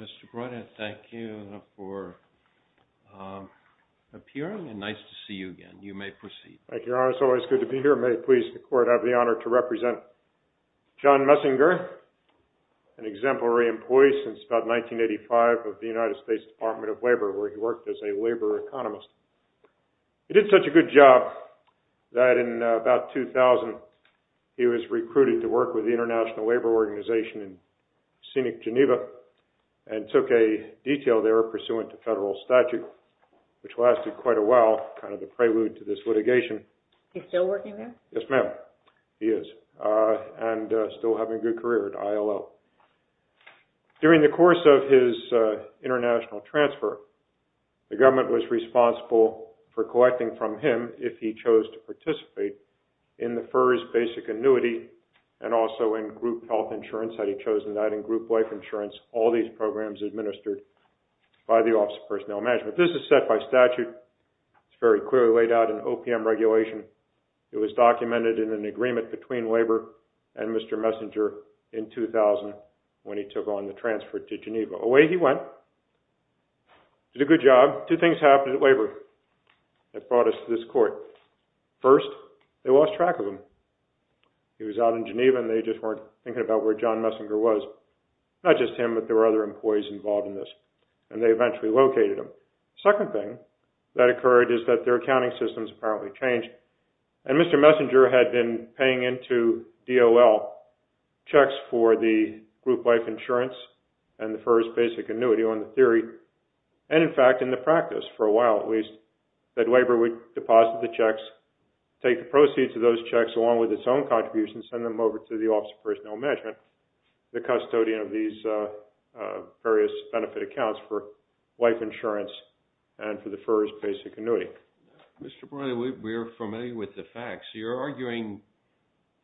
Mr. Breuder, thank you for appearing and nice to see you again. You may proceed. Thank you, Your Honor. It's always good to be here. May it please the Court, I have the honor to represent John Messenger, an exemplary employee since about 1985 of the United States Department of Labor where he worked as a labor economist. He did such a good job that in about 2000, he was recruited to work with the International Labor Organization in scenic Geneva and took a detail there pursuant to federal statute which lasted quite a while, kind of the prelude to this litigation. Is he still working there? Yes, ma'am, he is and still having a good career at ILO. During the course of his international transfer, the government was responsible for collecting from him, if he chose to participate, in the FERS basic annuity and also in group health insurance, had he chosen that, in group life insurance, all these programs administered by the Office of Personnel Management. This is set by statute, it's very clearly laid out in OPM regulation, it was documented in an agreement between Labor and Mr. Messenger in 2000 when he took on the transfer to Geneva. Away he went, did a good job, two things happened at Labor that brought us to this court. First, they lost track of him. He was out in Geneva and they just weren't thinking about where John Messenger was, not just him but there were other employees involved in this and they eventually located him. Second thing that occurred is that their accounting systems apparently changed and Mr. Messenger had been paying into DOL checks for the group life insurance and the FERS basic annuity on the theory and, in fact, in the practice, for a while at least, that Labor would deposit the checks, take the proceeds of those checks along with its own contributions and send them over to the Office of Personnel Management, the custodian of these various benefit accounts for life insurance and for the FERS basic annuity. Mr. Breuer, we're familiar with the facts. You're arguing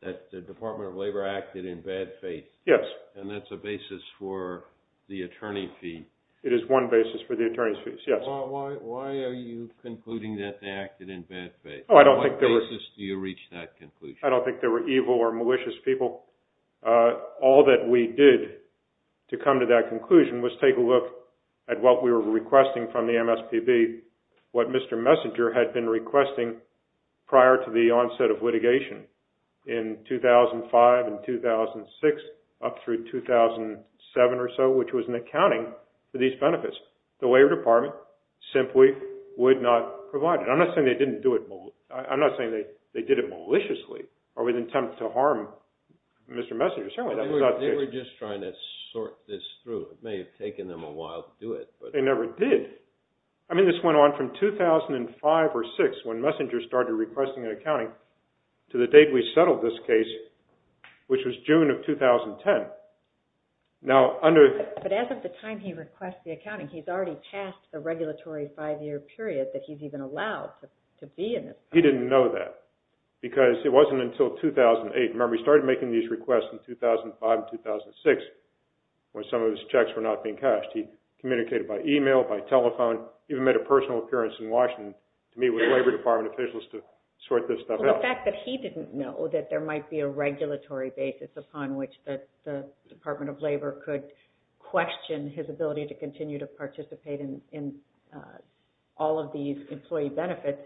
that the Department of Labor acted in bad faith. Yes. And that's a basis for the attorney fee. It is one basis for the attorney's fees, yes. Why are you concluding that they acted in bad faith? On what basis do you reach that conclusion? I don't think they were evil or malicious people. All that we did to come to that conclusion was take a look at what we were requesting from the MSPB, what Mr. Messenger had been requesting prior to the onset of litigation in 2005 and 2006 up through 2007 or so, which was an accounting for these benefits. The Labor Department simply would not provide it. I'm not saying they didn't do it. I'm not saying they did it maliciously or with an attempt to harm Mr. Messenger. Certainly, that was not the case. They were just trying to sort this through. It may have taken them a while to do it. But they never did. I mean, this went on from 2005 or 2006, when Messenger started requesting an accounting, to the date we settled this case, which was June of 2010. But as of the time he requests the accounting, he's already passed the regulatory five-year period that he's even allowed to be in it. He didn't know that because it wasn't until 2008. Remember, he started making these requests in 2005 and 2006 when some of his checks were not being cashed. He communicated by email, by telephone, even made a personal appearance in Washington to meet with Labor Department officials to sort this stuff out. Well, the fact that he didn't know that there might be a regulatory basis upon which the Department of Labor could question his ability to continue to participate in all of these employee benefits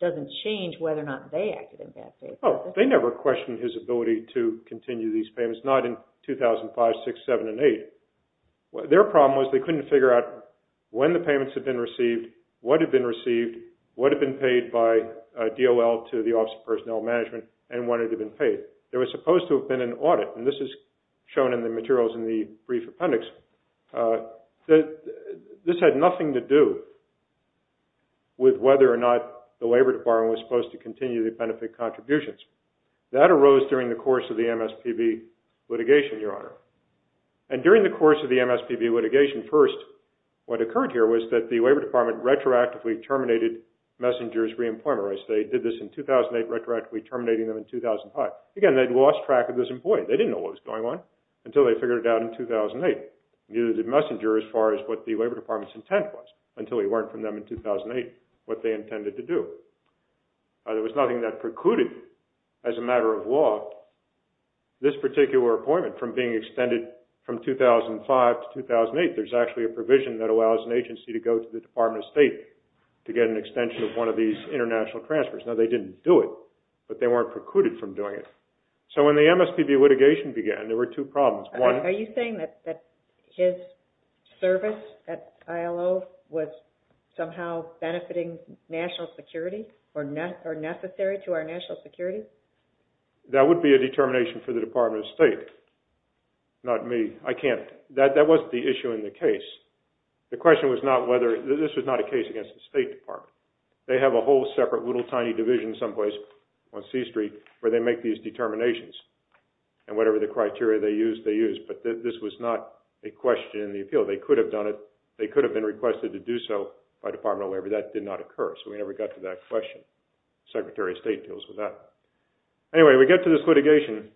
doesn't change whether or not they acted in bad faith. Oh, they never questioned his ability to continue these payments, not in 2005, 2006, 2007, and 2008. Their problem was they couldn't figure out when the payments had been received, what had been received, what had been paid by DOL to the Office of Personnel Management, and when it had been paid. There was supposed to have been an audit, and this is shown in the materials in the brief appendix, that this had nothing to do with whether or not the Labor Department was supposed to continue the benefit contributions. That arose during the course of the MSPB litigation, Your Honor. And during the course of the MSPB litigation, first, what occurred here was that the Labor Department retroactively terminated Messenger's re-employment, as they did this in 2008, retroactively terminating them in 2005. Again, they'd lost track of this employee. They didn't know what was going on until they figured it out in 2008. Neither did Messenger, as far as what the Labor Department's intent was, until he learned from them in 2008 what they intended to do. There was nothing that precluded, as a matter of law, this particular appointment from being extended from 2005 to 2008. There's actually a provision that allows an agency to go to the Department of State to get an extension of one of these international transfers. Now, they didn't do it, but they weren't precluded from doing it. So when the MSPB litigation began, there were two problems. One... Are you saying that his service at ILO was somehow benefiting national security, or necessary to our national security? That would be a determination for the Department of State, not me. I can't... That wasn't the issue in the case. The question was not whether... This was not a case against the State Department. They have a whole separate little tiny division someplace on C Street where they make these determinations, and whatever the criteria they use, they use. But this was not a question in the appeal. They could have done it. They could have been requested to do so by the Department of Labor. That did not occur, so we never got to that question. The Secretary of State deals with that. Anyway, we get to this litigation,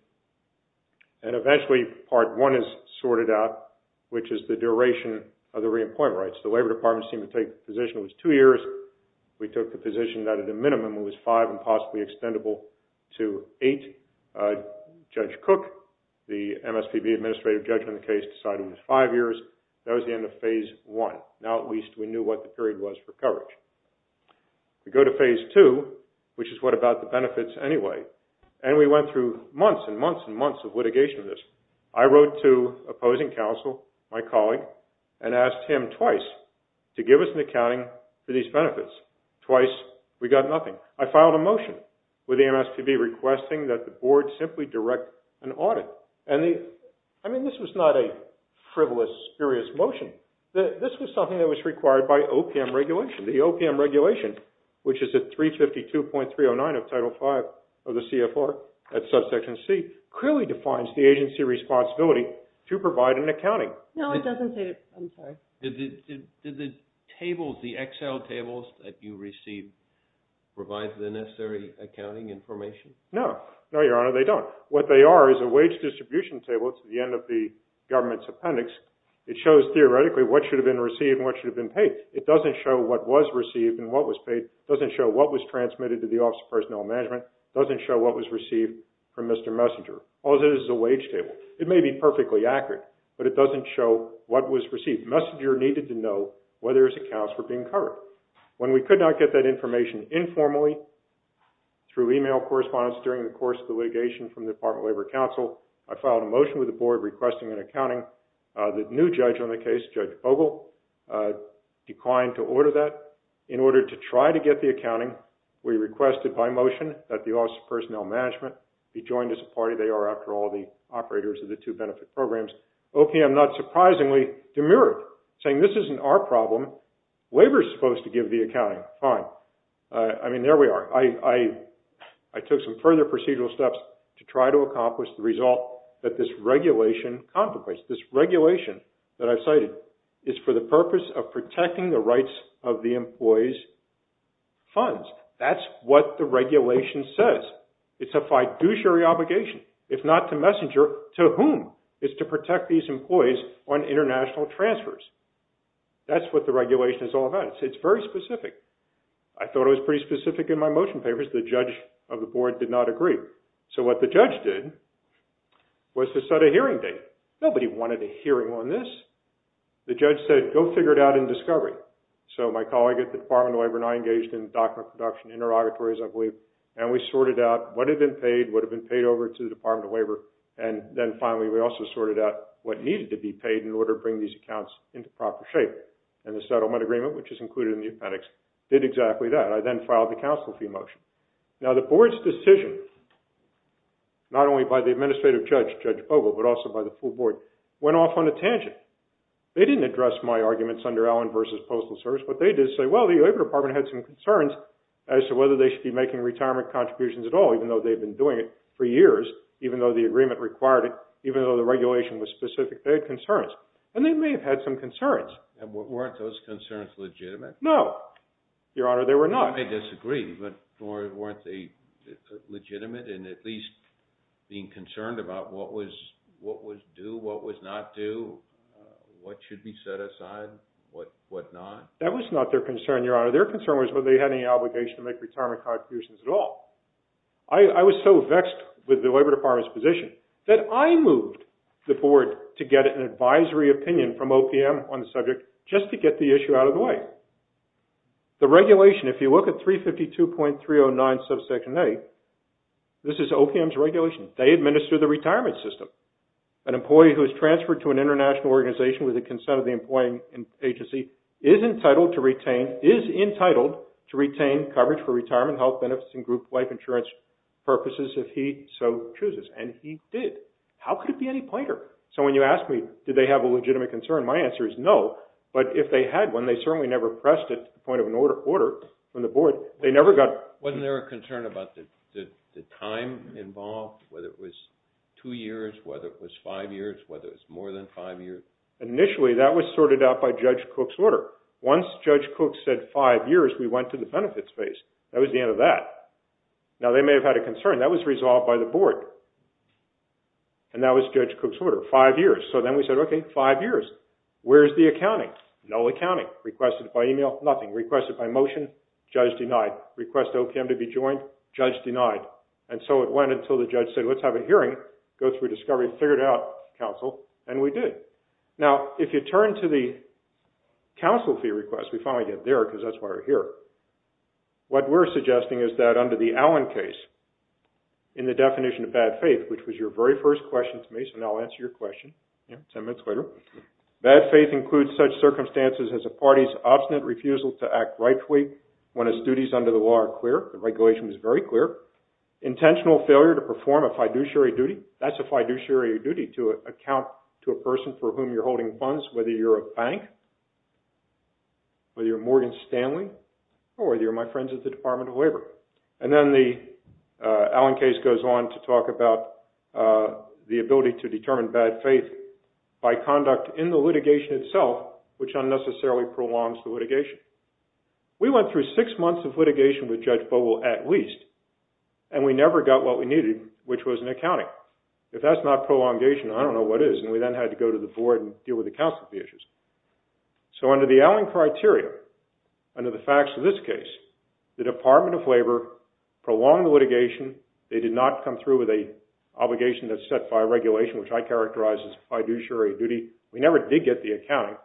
and eventually Part I is sorted out, which is the duration of the re-employment rights. The Labor Department seemed to take the position it was two years. We took the position that at a minimum it was five and possibly extendable to eight. Judge Cook, the MSPB Administrative Judge on the case, decided it was five years. That was the end of Phase I. Now at least we knew what the period was for coverage. We go to Phase II, which is what about the benefits anyway, and we went through months and months and months of litigation of this. I wrote to opposing counsel, my colleague, and asked him twice to give us an accounting for these benefits. Twice, we got nothing. I filed a motion with the MSPB requesting that the board simply direct an audit. And the... I mean, this was not a frivolous, spurious motion. This was something that was required by OPM regulation. The OPM regulation, which is at 352.309 of Title V of the CFR at Subsection C, clearly defines the agency responsibility to provide an accounting. No, it doesn't say it. I'm sorry. Did the tables, the Excel tables that you received, provide the necessary accounting information? No. No, Your Honor, they don't. What they are is a wage distribution table. It's at the end of the government's appendix. It shows theoretically what should have been received and what should have been paid. It doesn't show what was received and what was paid. It doesn't show what was transmitted to the Office of Personnel Management. It doesn't show what was received from Mr. Messenger. All it is is a wage table. It may be perfectly accurate, but it doesn't show what was received. Messenger needed to know whether his accounts were being covered. When we could not get that information informally through email correspondence during the course of the litigation from the Department of Labor Counsel, I filed a motion with the board requesting an accounting. The new judge on the case, Judge Vogel, declined to order that. In order to try to get the accounting, we requested by motion that the Office of Personnel Management be joined as a party. They are, after all, the operators of the two benefit programs. OPM, not surprisingly, demurred, saying this isn't our problem. Labor is supposed to give the accounting. Fine. I mean, there we are. I took some further procedural steps to try to accomplish the result that this regulation that I've cited is for the purpose of protecting the rights of the employee's funds. That's what the regulation says. It's a fiduciary obligation. If not to Messenger, to whom? It's to protect these employees on international transfers. That's what the regulation is all about. It's very specific. I thought it was pretty specific in my motion papers. The judge of the board did not agree. So what the judge did was to set a hearing date. Nobody wanted a hearing on this. The judge said, go figure it out in discovery. So my colleague at the Department of Labor and I engaged in document production interrogatories, I believe, and we sorted out what had been paid, what had been paid over to the Department of Labor, and then finally we also sorted out what needed to be paid in order to bring these accounts into proper shape. And the settlement agreement, which is included in the appendix, did exactly that. I then filed the counsel fee motion. Now, the board's decision, not only by the administrative judge, Judge Bogle, but also by the full board, went off on a tangent. They didn't address my arguments under Allen v. Postal Service. What they did say, well, the Labor Department had some concerns as to whether they should be making retirement contributions at all, even though they've been doing it for years, even though the agreement required it, even though the regulation was specific. They had concerns. And they may have had some concerns. And weren't those concerns legitimate? No, Your Honor, they were not. I may disagree, but weren't they legitimate in at least being concerned about what was due, what was not due, what should be set aside, what not? That was not their concern, Your Honor. Their concern was whether they had any obligation to make retirement contributions at all. I was so vexed with the Labor Department's position that I moved the board to get an advisory opinion from OPM on the subject just to get the issue out of the way. The regulation, if you look at 352.309 subsection A, this is OPM's regulation. They administer the retirement system. An employee who is transferred to an international organization with the consent of the employing agency is entitled to retain coverage for retirement, health benefits, and group life insurance purposes if he so chooses. And he did. How could it be any pointer? So when you ask me, did they have a legitimate concern, my answer is no. But if they had one, they certainly never pressed it to the point of an order from the board. They never got... Wasn't there a concern about the time involved, whether it was two years, whether it was five years, whether it was more than five years? Initially, that was sorted out by Judge Cook's order. Once Judge Cook said five years, we went to the benefits phase. That was the end of that. Now, they may have had a concern. That was resolved by the board. And that was Judge Cook's order, five years. So then we said, okay, five years. Where's the accounting? No accounting. Requested by email? Nothing. Requested by motion? Judge denied. Request OPM to be joined? Judge denied. And so it went until the judge said, let's have a hearing, go through discovery, figure it out, counsel, and we did. Now, if you turn to the counsel fee request, we finally get there because that's why we're here. What we're suggesting is that under the Allen case, in the definition of bad faith, which was your very first question to me, so now I'll answer your question, ten minutes later. Bad faith includes such circumstances as a party's obstinate refusal to act rightfully when its duties under the law are clear. The regulation was very clear. Intentional failure to perform a fiduciary duty. That's a fiduciary duty, to account to a person for whom you're holding funds, whether you're a bank, whether you're Morgan Stanley, or whether you're my friends at the Department of Labor. And then the Allen case goes on to talk about the ability to determine bad faith by conduct in the litigation itself, which unnecessarily prolongs the litigation. We went through six months of litigation with Judge Bogle, at least, and we never got what we needed, which was an accounting. If that's not prolongation, I don't know what is. And we then had to go to the board and deal with the counsel fee issues. So under the Allen criteria, under the facts of this case, the Department of Labor prolonged the litigation. They did not come through with an obligation that's set by regulation, which I characterize as fiduciary duty. We never did get the accounting.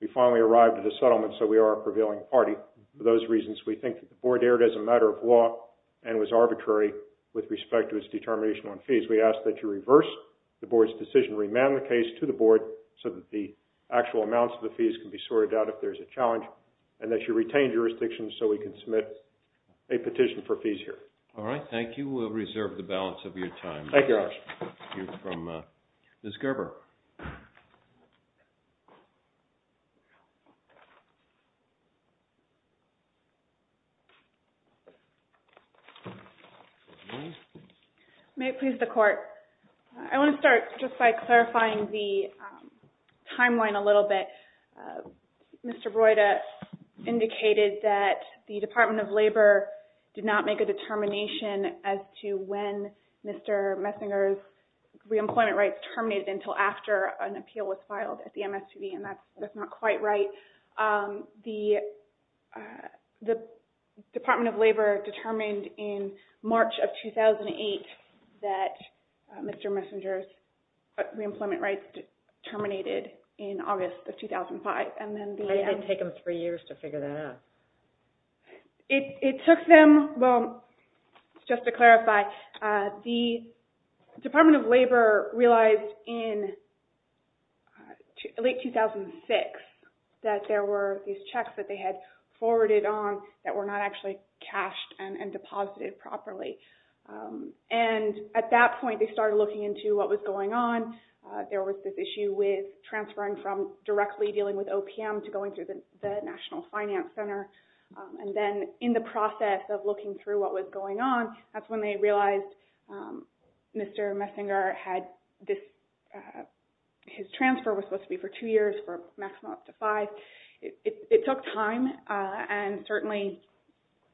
We finally arrived at a settlement, so we are a prevailing party. For those reasons, we think the board erred as a matter of law and was arbitrary with respect to its determination on fees. We ask that you reverse the board's decision, remand the case to the board so that the actual amounts of the fees can be sorted out if there's a challenge, and that you retain jurisdictions so we can submit a petition for fees here. All right. Thank you. We'll reserve the balance of your time. Thank you, Your Honor. We'll hear from Ms. Gerber. May it please the Court. I want to start just by clarifying the timeline a little bit. Mr. Broida indicated that the Department of Labor did not make a determination as to when Mr. Messinger's reemployment rights terminated until after an appeal was filed at the MSTV, and that's not quite right. The Department of Labor determined in March of 2008 that Mr. Messinger's reemployment rights terminated in August of 2005. How did it take them three years to figure that out? It took them – well, just to clarify, the Department of Labor realized in late 2006 that there were these checks that they had forwarded on that were not actually cashed and deposited properly. And at that point, they started looking into what was going on. There was this issue with transferring from directly dealing with OPM to going through the National Finance Center. And then in the process of looking through what was going on, that's when they realized Mr. Messinger had this – his transfer was supposed to be for two years, for a maximum of up to five. It took time, and certainly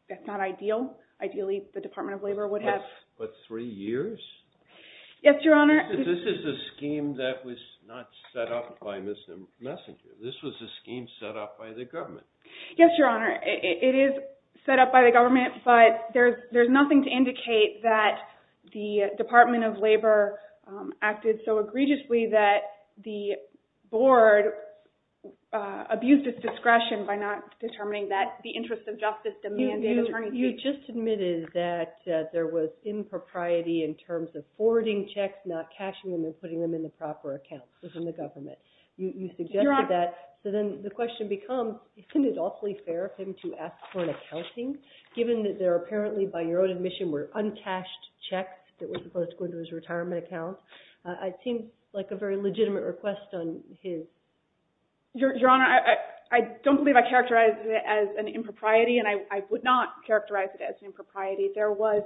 that's not ideal. Ideally, the Department of Labor would have – What, three years? Yes, Your Honor. This is a scheme that was not set up by Mr. Messinger. This was a scheme set up by the government. Yes, Your Honor. It is set up by the government, but there's nothing to indicate that the Department of Labor acted so egregiously that the board abused its discretion by not determining that the interest of justice demands an attorney to – You just admitted that there was impropriety in terms of forwarding checks, not cashing them and putting them in the proper accounts within the government. You suggested that. Your Honor – So then the question becomes, isn't it awfully fair of him to ask for an accounting, given that there apparently, by your own admission, were uncashed checks that were supposed to go into his retirement account? It seems like a very legitimate request on his – Your Honor, I don't believe I characterized it as an impropriety, and I would not characterize it as an impropriety. There was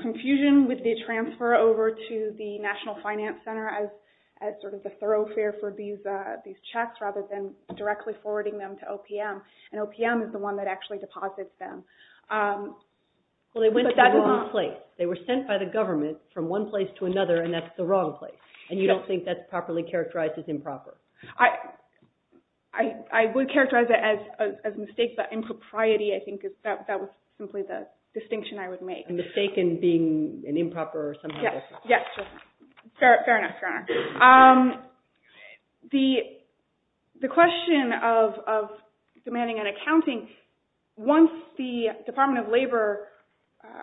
confusion with the transfer over to the National Finance Center as sort of a thoroughfare for these checks, rather than directly forwarding them to OPM. And OPM is the one that actually deposits them. Well, they went to the wrong place. They were sent by the government from one place to another, and that's the wrong place. And you don't think that's properly characterized as improper? I would characterize it as a mistake, but impropriety, I think, is – that was simply the distinction I would make. Yes. Fair enough, Your Honor. The question of demanding an accounting, once the Department of Labor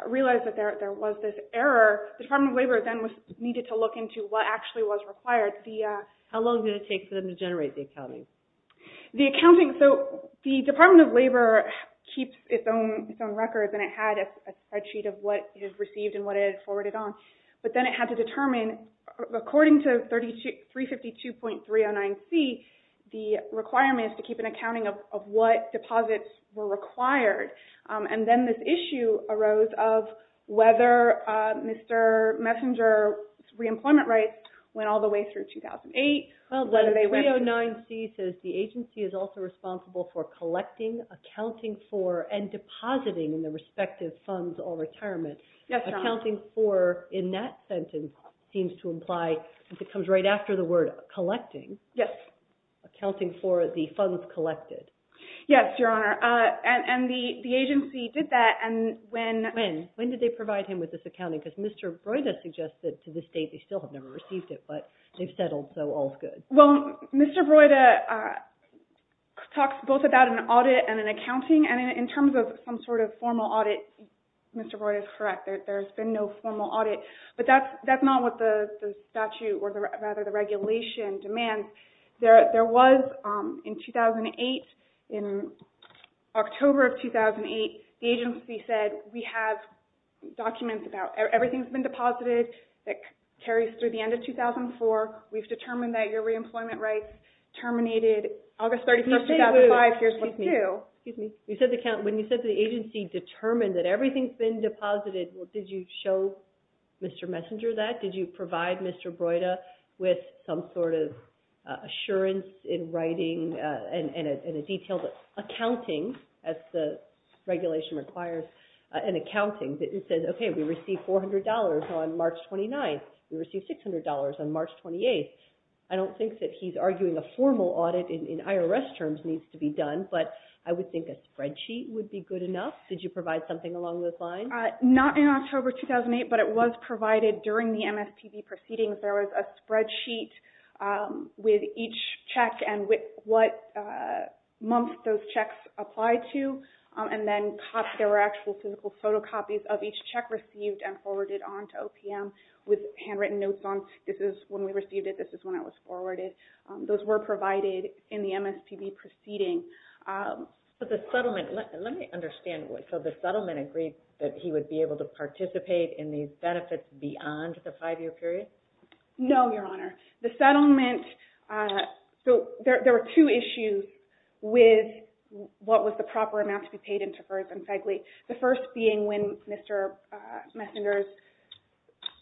realized that there was this error, the Department of Labor then needed to look into what actually was required. How long did it take for them to generate the accounting? The accounting – so the Department of Labor keeps its own records, and it had a spreadsheet of what it had received and what it had forwarded on. But then it had to determine, according to 352.309C, the requirement is to keep an accounting of what deposits were required. And then this issue arose of whether Mr. Messenger's reemployment rights went all the way through 2008. 309C says the agency is also responsible for collecting, accounting for, and depositing Yes, Your Honor. Accounting for, in that sentence, seems to imply – it comes right after the word collecting. Yes. Accounting for the funds collected. Yes, Your Honor. And the agency did that, and when – When? When did they provide him with this accounting? Because Mr. Broida suggested to the state they still have never received it, but they've settled, so all's good. Well, Mr. Broida talks both about an audit and an accounting, and in terms of some sort of formal audit, Mr. Broida is correct. There's been no formal audit. But that's not what the statute, or rather, the regulation demands. There was, in 2008, in October of 2008, the agency said, we have documents about – everything's been deposited that carries through the end of 2004. We've determined that your reemployment rights terminated August 31st, 2005. Excuse me. Here's what they do. Excuse me. When you said the agency determined that everything's been deposited, did you show Mr. Messenger that? Did you provide Mr. Broida with some sort of assurance in writing and a detailed accounting, as the regulation requires, an accounting that says, okay, we received $400 on March 29th. We received $600 on March 28th. I don't think that he's arguing a formal audit in IRS terms needs to be done, but I would think a spreadsheet would be good enough. Did you provide something along those lines? Not in October 2008, but it was provided during the MSPB proceedings. There was a spreadsheet with each check and what month those checks applied to, and then there were actual physical photocopies of each check received and forwarded on to OPM with handwritten notes on, this is when we received it, this is when it was forwarded. Those were provided in the MSPB proceeding. But the settlement, let me understand, so the settlement agreed that he would be able to participate in these benefits beyond the five-year period? No, Your Honor. The settlement, so there were two issues with what was the proper amount to be paid into FERS and FEGLI. The first being when Mr. Messenger's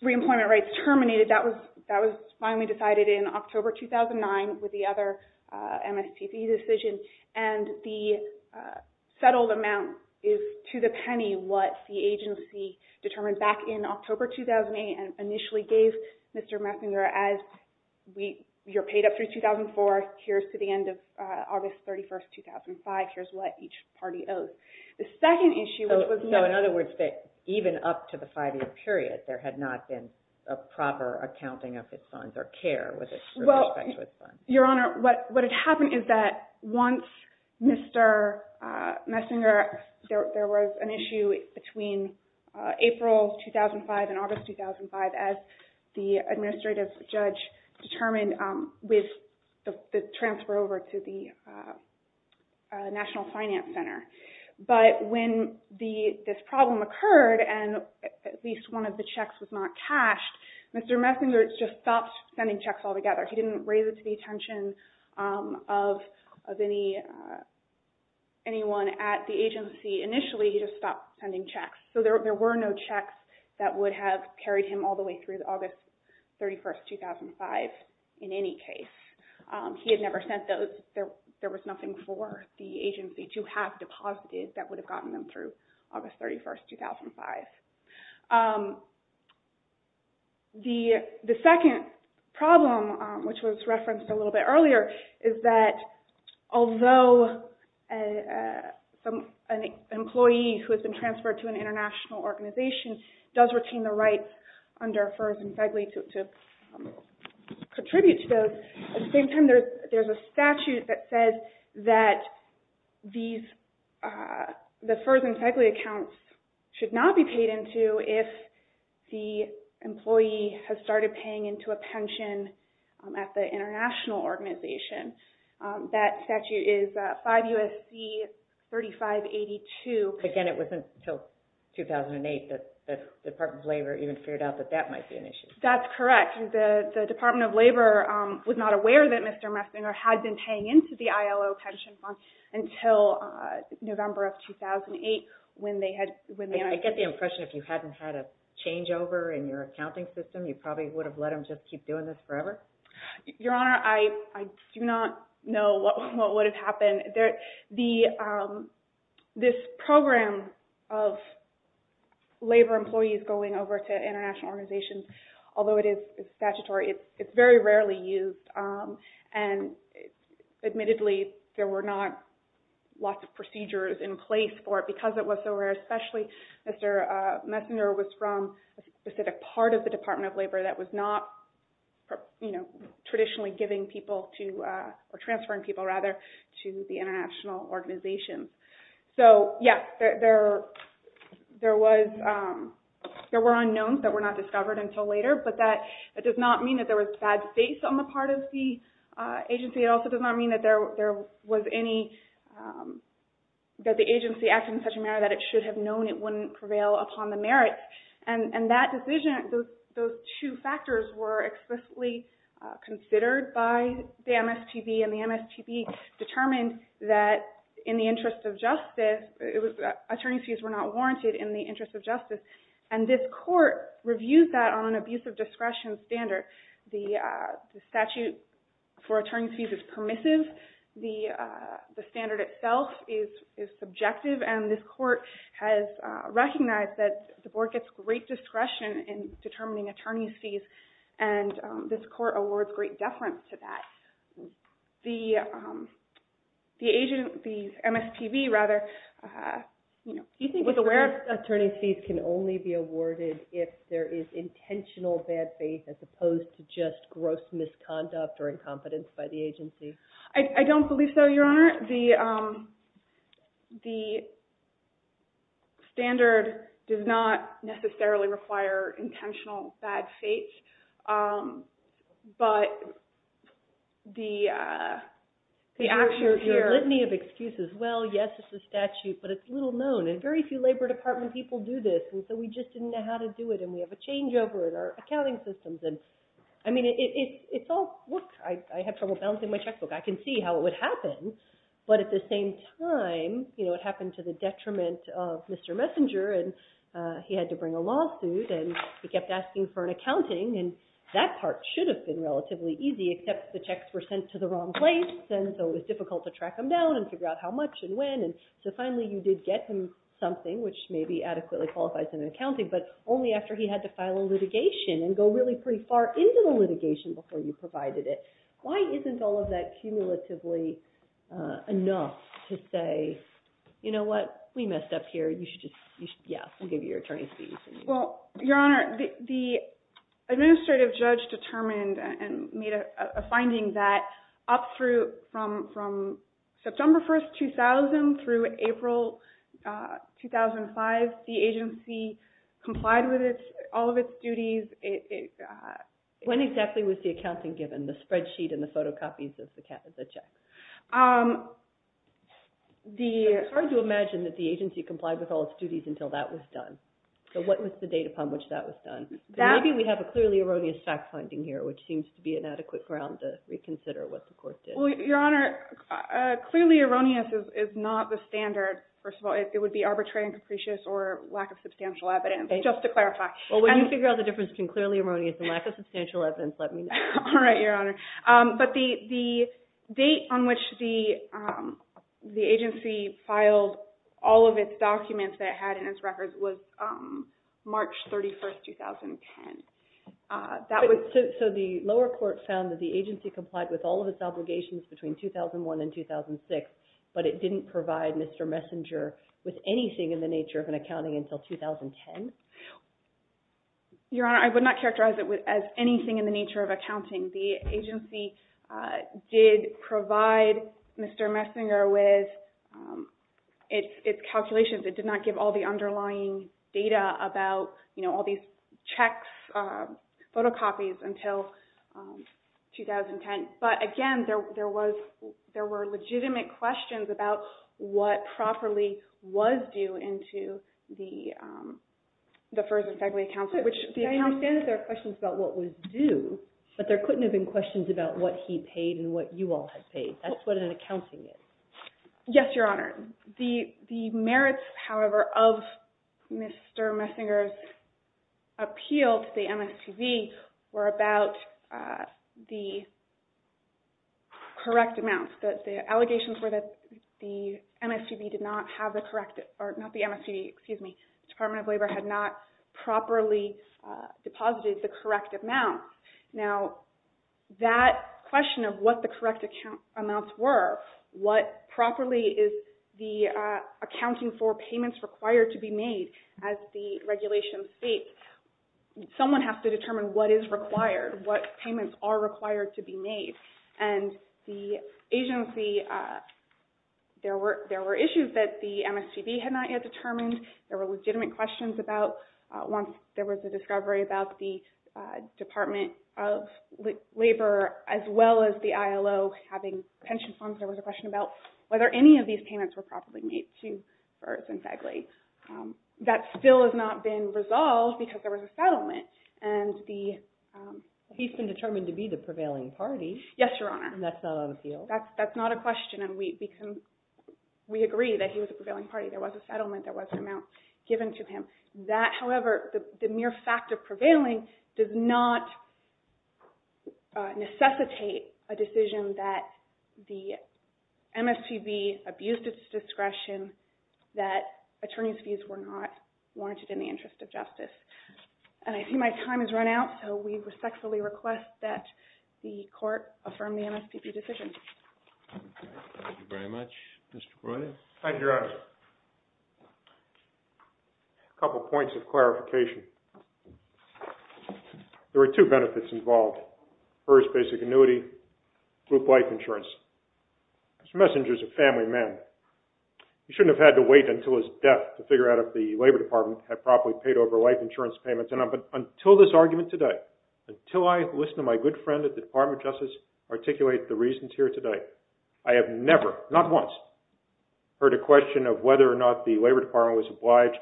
reemployment rights terminated. That was finally decided in October 2009 with the other MSPB decision. And the settled amount is to the penny what the agency determined back in October 2008 and initially gave Mr. Messenger as you're paid up through 2004, here's to the end of August 31st, 2005, here's what each party owes. The second issue was... So in other words, even up to the five-year period, there had not been a proper accounting of his funds or care with respect to his funds. Your Honor, what had happened is that once Mr. Messenger, there was an issue between April 2005 and August 2005 as the administrative judge determined with the transfer over to the National Finance Center. But when this problem occurred and at least one of the checks was not cashed, Mr. Messenger just stopped sending checks altogether. He didn't raise it to the attention of anyone at the agency. Initially, he just stopped sending checks. So there were no checks that would have carried him all the way through August 31st, 2005 in any case. He had never sent those. There was nothing for the agency to have deposited that would have gotten them through August 31st, 2005. The second problem, which was referenced a little bit earlier, is that although an employee who has been transferred to an international organization does retain the rights under the statute, at the same time there's a statute that says that the FERS and FEGLI accounts should not be paid into if the employee has started paying into a pension at the international organization. That statute is 5 U.S.C. 3582. Again, it wasn't until 2008 that the Department of Labor even figured out that that might be an issue. That's correct. The Department of Labor was not aware that Mr. Messinger had been paying into the ILO pension fund until November of 2008 when they had... I get the impression if you hadn't had a changeover in your accounting system, you probably would have let him just keep doing this forever? Your Honor, I do not know what would have happened. This program of labor employees going over to international organizations, although it is statutory, it's very rarely used. Admittedly, there were not lots of procedures in place for it because it was so rare, especially Mr. Messinger was from a specific part of the Department of Labor that was not traditionally giving people to, or transferring people rather, to the international organizations. Yes, there were unknowns that were not discovered until later, but that does not mean that there was bad faith on the part of the agency. It also does not mean that the agency acted in such a manner that it should have known it wouldn't prevail upon the merits. That decision, those two factors were explicitly considered by the MSTB, and the MSTB determined that in the interest of justice, attorney's fees were not warranted in the interest of justice, and this court reviewed that on an abuse of discretion standard. The statute for attorney's fees is permissive. The standard itself is subjective, and this court has recognized that the board gets great discretion in determining attorney's fees, and this court awards great deference to that. The agency, the MSTB rather, you know, was aware... Attorney's fees can only be awarded if there is intentional bad faith as opposed to just gross misconduct or incompetence by the agency. I don't believe so, Your Honor. The standard does not necessarily require intentional bad faith, but the actions here... There's a litany of excuses. Well, yes, it's a statute, but it's little known, and very few labor department people do this, and so we just didn't know how to do it, and we have a changeover in our accounting systems, and I mean, it's all... I have trouble balancing my checkbook. I can see how it would happen, but at the same time, you know, it happened to the detriment of Mr. Messenger, and he had to bring a lawsuit, and he kept asking for an accounting, and that part should have been relatively easy, except the checks were sent to the wrong place, and so it was difficult to track them down and figure out how much and when, and so finally you did get him something, which maybe adequately qualifies him in accounting, but only after he had to file a litigation and go really pretty far into the litigation before you provided it. Why isn't all of that cumulatively enough to say, you know what? We messed up here. You should just... Yeah, we'll give you your attorney's fees. Well, Your Honor, the administrative judge determined and made a finding that up through from September 1st, 2000 through April 2005, the agency complied with all of its duties. When exactly was the accounting given? I have a sheet and the photocopies of the checks. It's hard to imagine that the agency complied with all its duties until that was done. So what was the date upon which that was done? Maybe we have a clearly erroneous fact-finding here, which seems to be an adequate ground to reconsider what the court did. Well, Your Honor, clearly erroneous is not the standard, first of all. It would be arbitrary and capricious or lack of substantial evidence, just to clarify. Well, when you figure out the difference between clearly erroneous and lack of substantial evidence, let me know. But the date on which the agency filed all of its documents that it had in its records was March 31st, 2010. So the lower court found that the agency complied with all of its obligations between 2001 and 2006, but it didn't provide Mr. Messenger with anything in the nature of an accounting until 2010? Your Honor, I would not characterize it as anything in the nature of accounting. The agency did provide Mr. Messenger with its calculations. It did not give all the underlying data about all these checks, photocopies until 2010. But again, there were legitimate questions about what properly was due into the FERS and FEGLI accounts. I understand that there are questions about what was due, but there couldn't have been questions about what he paid and what you all had paid. That's what an accounting is. Yes, Your Honor. The merits, however, of Mr. Messenger's appeal to the MSTV were about the correct amounts. The allegations were that the MSTV did not have the correct, or not the MSTV, excuse me, the Department of Labor had not properly deposited the correct amounts. Now, that question of what the correct amounts were, what properly is the accounting for payments required to be made as the regulation states, someone has to determine what is required, what payments are required to be made. And the agency, there were issues that the MSTV had not yet determined. There were legitimate questions about once there was a discovery about the Department of Labor as well as the ILO having pension funds. There was a question about whether any of these payments were properly made to FERS and FEGLI. That still has not been resolved because there was a settlement. And the... He's been determined to be the prevailing party. Yes, Your Honor. And that's not on appeal. That's not a question. We agree that he was a prevailing party. There was a settlement, there was an amount given to him. However, the mere fact of prevailing does not necessitate a decision that the MSTV abused its discretion, that attorney's fees were not warranted in the interest of justice. And I see my time has run out, so we respectfully request that the court affirm the MSTV decision. Thank you very much. Mr. Breuer. Aye, Your Honor. A couple points of clarification. There were two benefits involved. First, basic annuity, group life insurance. Mr. Messenger is a family man. He shouldn't have had to wait until his death to figure out if the Labor Department had properly paid over life insurance payments. But until this argument today, until I listen to my good friend at the Department of Justice articulate the reasons here today, I have never, not once, heard a question of whether or not the Labor Department was obliged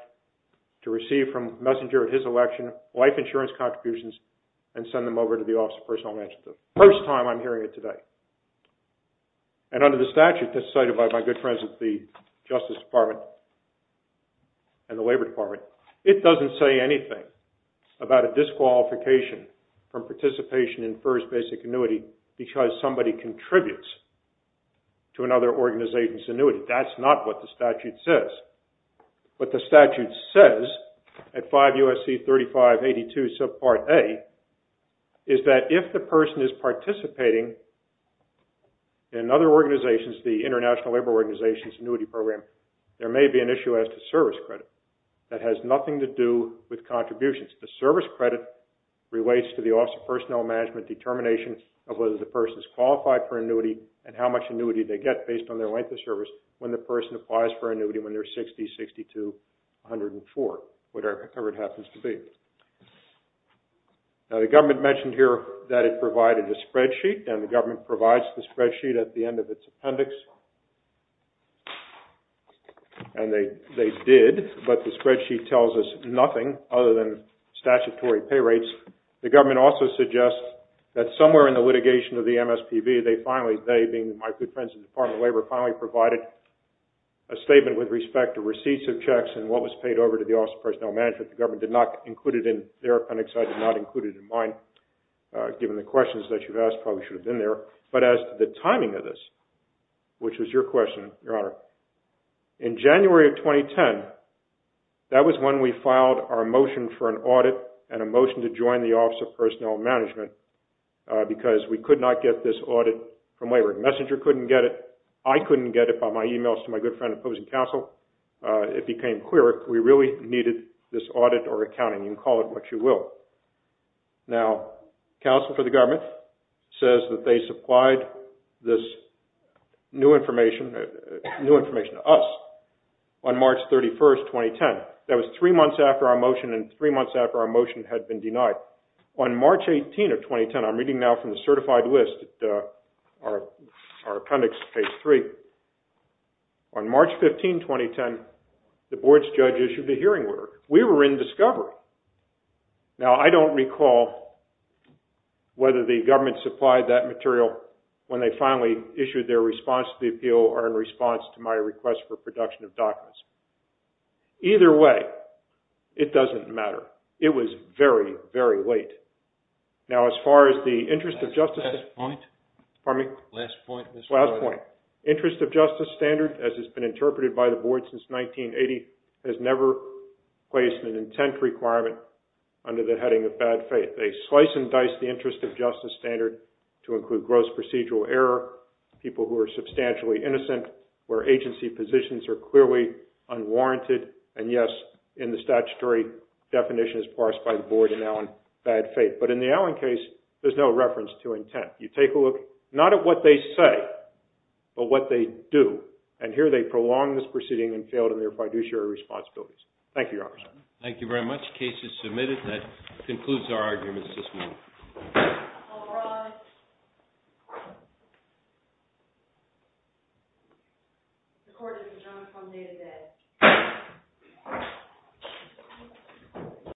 to receive from Messenger at his election life insurance contributions and send them over to the Office of Personnel Management. First time I'm hearing it today. And under the statute that's cited by my good friends at the Justice Department and the Labor Department, it doesn't say anything about a disqualification from participation in FERS basic annuity because somebody contributes to another organization's annuity. That's not what the statute says. What the statute says at 5 U.S.C. 3582 subpart A is that if the person is participating in another organization's, the International Labor Organization's annuity program, there may be an issue as to service credit. That has nothing to do with contributions. The service credit relates to the Office of Personnel Management determination of whether the person is qualified for annuity and how much annuity they get based on their length of service when the person applies for annuity when they're 60, 62, 104, whatever it happens to be. Now the government mentioned here that it provided a spreadsheet and the government provides the spreadsheet at the end of its appendix. And they did, but the spreadsheet tells us nothing other than statutory pay rates. The government also suggests that somewhere in the litigation of the MSPB, they finally, they being my good friends in the Department of Labor, finally provided a statement with respect to receipts of checks and what was paid over to the Office of Personnel Management. The government did not include it in their appendix. I did not include it in mine. Given the questions that you've asked, probably should have been there. But as to the timing of this, which was your question, Your Honor, in January of 2010, that was when we filed our motion for an audit and a motion to join the Office of Personnel Management because we could not get this audit from waivering. Messenger couldn't get it. I couldn't get it by my emails to my good friend opposing counsel. It became clear we really needed this audit or accounting. You can call it what you will. Now, counsel for the government says that they supplied this new information, new information to us on March 31st, 2010. That was three months after our motion and three months after our motion had been denied. On March 18th of 2010, I'm reading now from the certified list, our appendix page 3. On March 15th, 2010, the board's judge issued a hearing order. We were in discovery. Now, I don't recall whether the government supplied that material when they finally issued their response to the appeal or in response to my request for production of documents. Either way, it doesn't matter. It was very, very late. Now, as far as the interest of justice... Last point. Pardon me? Last point. Last point. Interest of justice standard, as has been interpreted by the board since 1980, has never placed an intent requirement under the heading of bad faith. They slice and dice the interest of justice standard to include gross procedural error, people who are substantially innocent, where agency positions are clearly unwarranted, and yes, in the statutory definition as parsed by the board in Allen, bad faith. But in the Allen case, there's no reference to intent. You take a look, not at what they say, but what they do. And here, they prolonged this proceeding and failed in their fiduciary responsibilities. Thank you, Your Honor. Thank you very much. Case is submitted. That concludes our arguments this morning. All rise. The court is adjourned from day to day.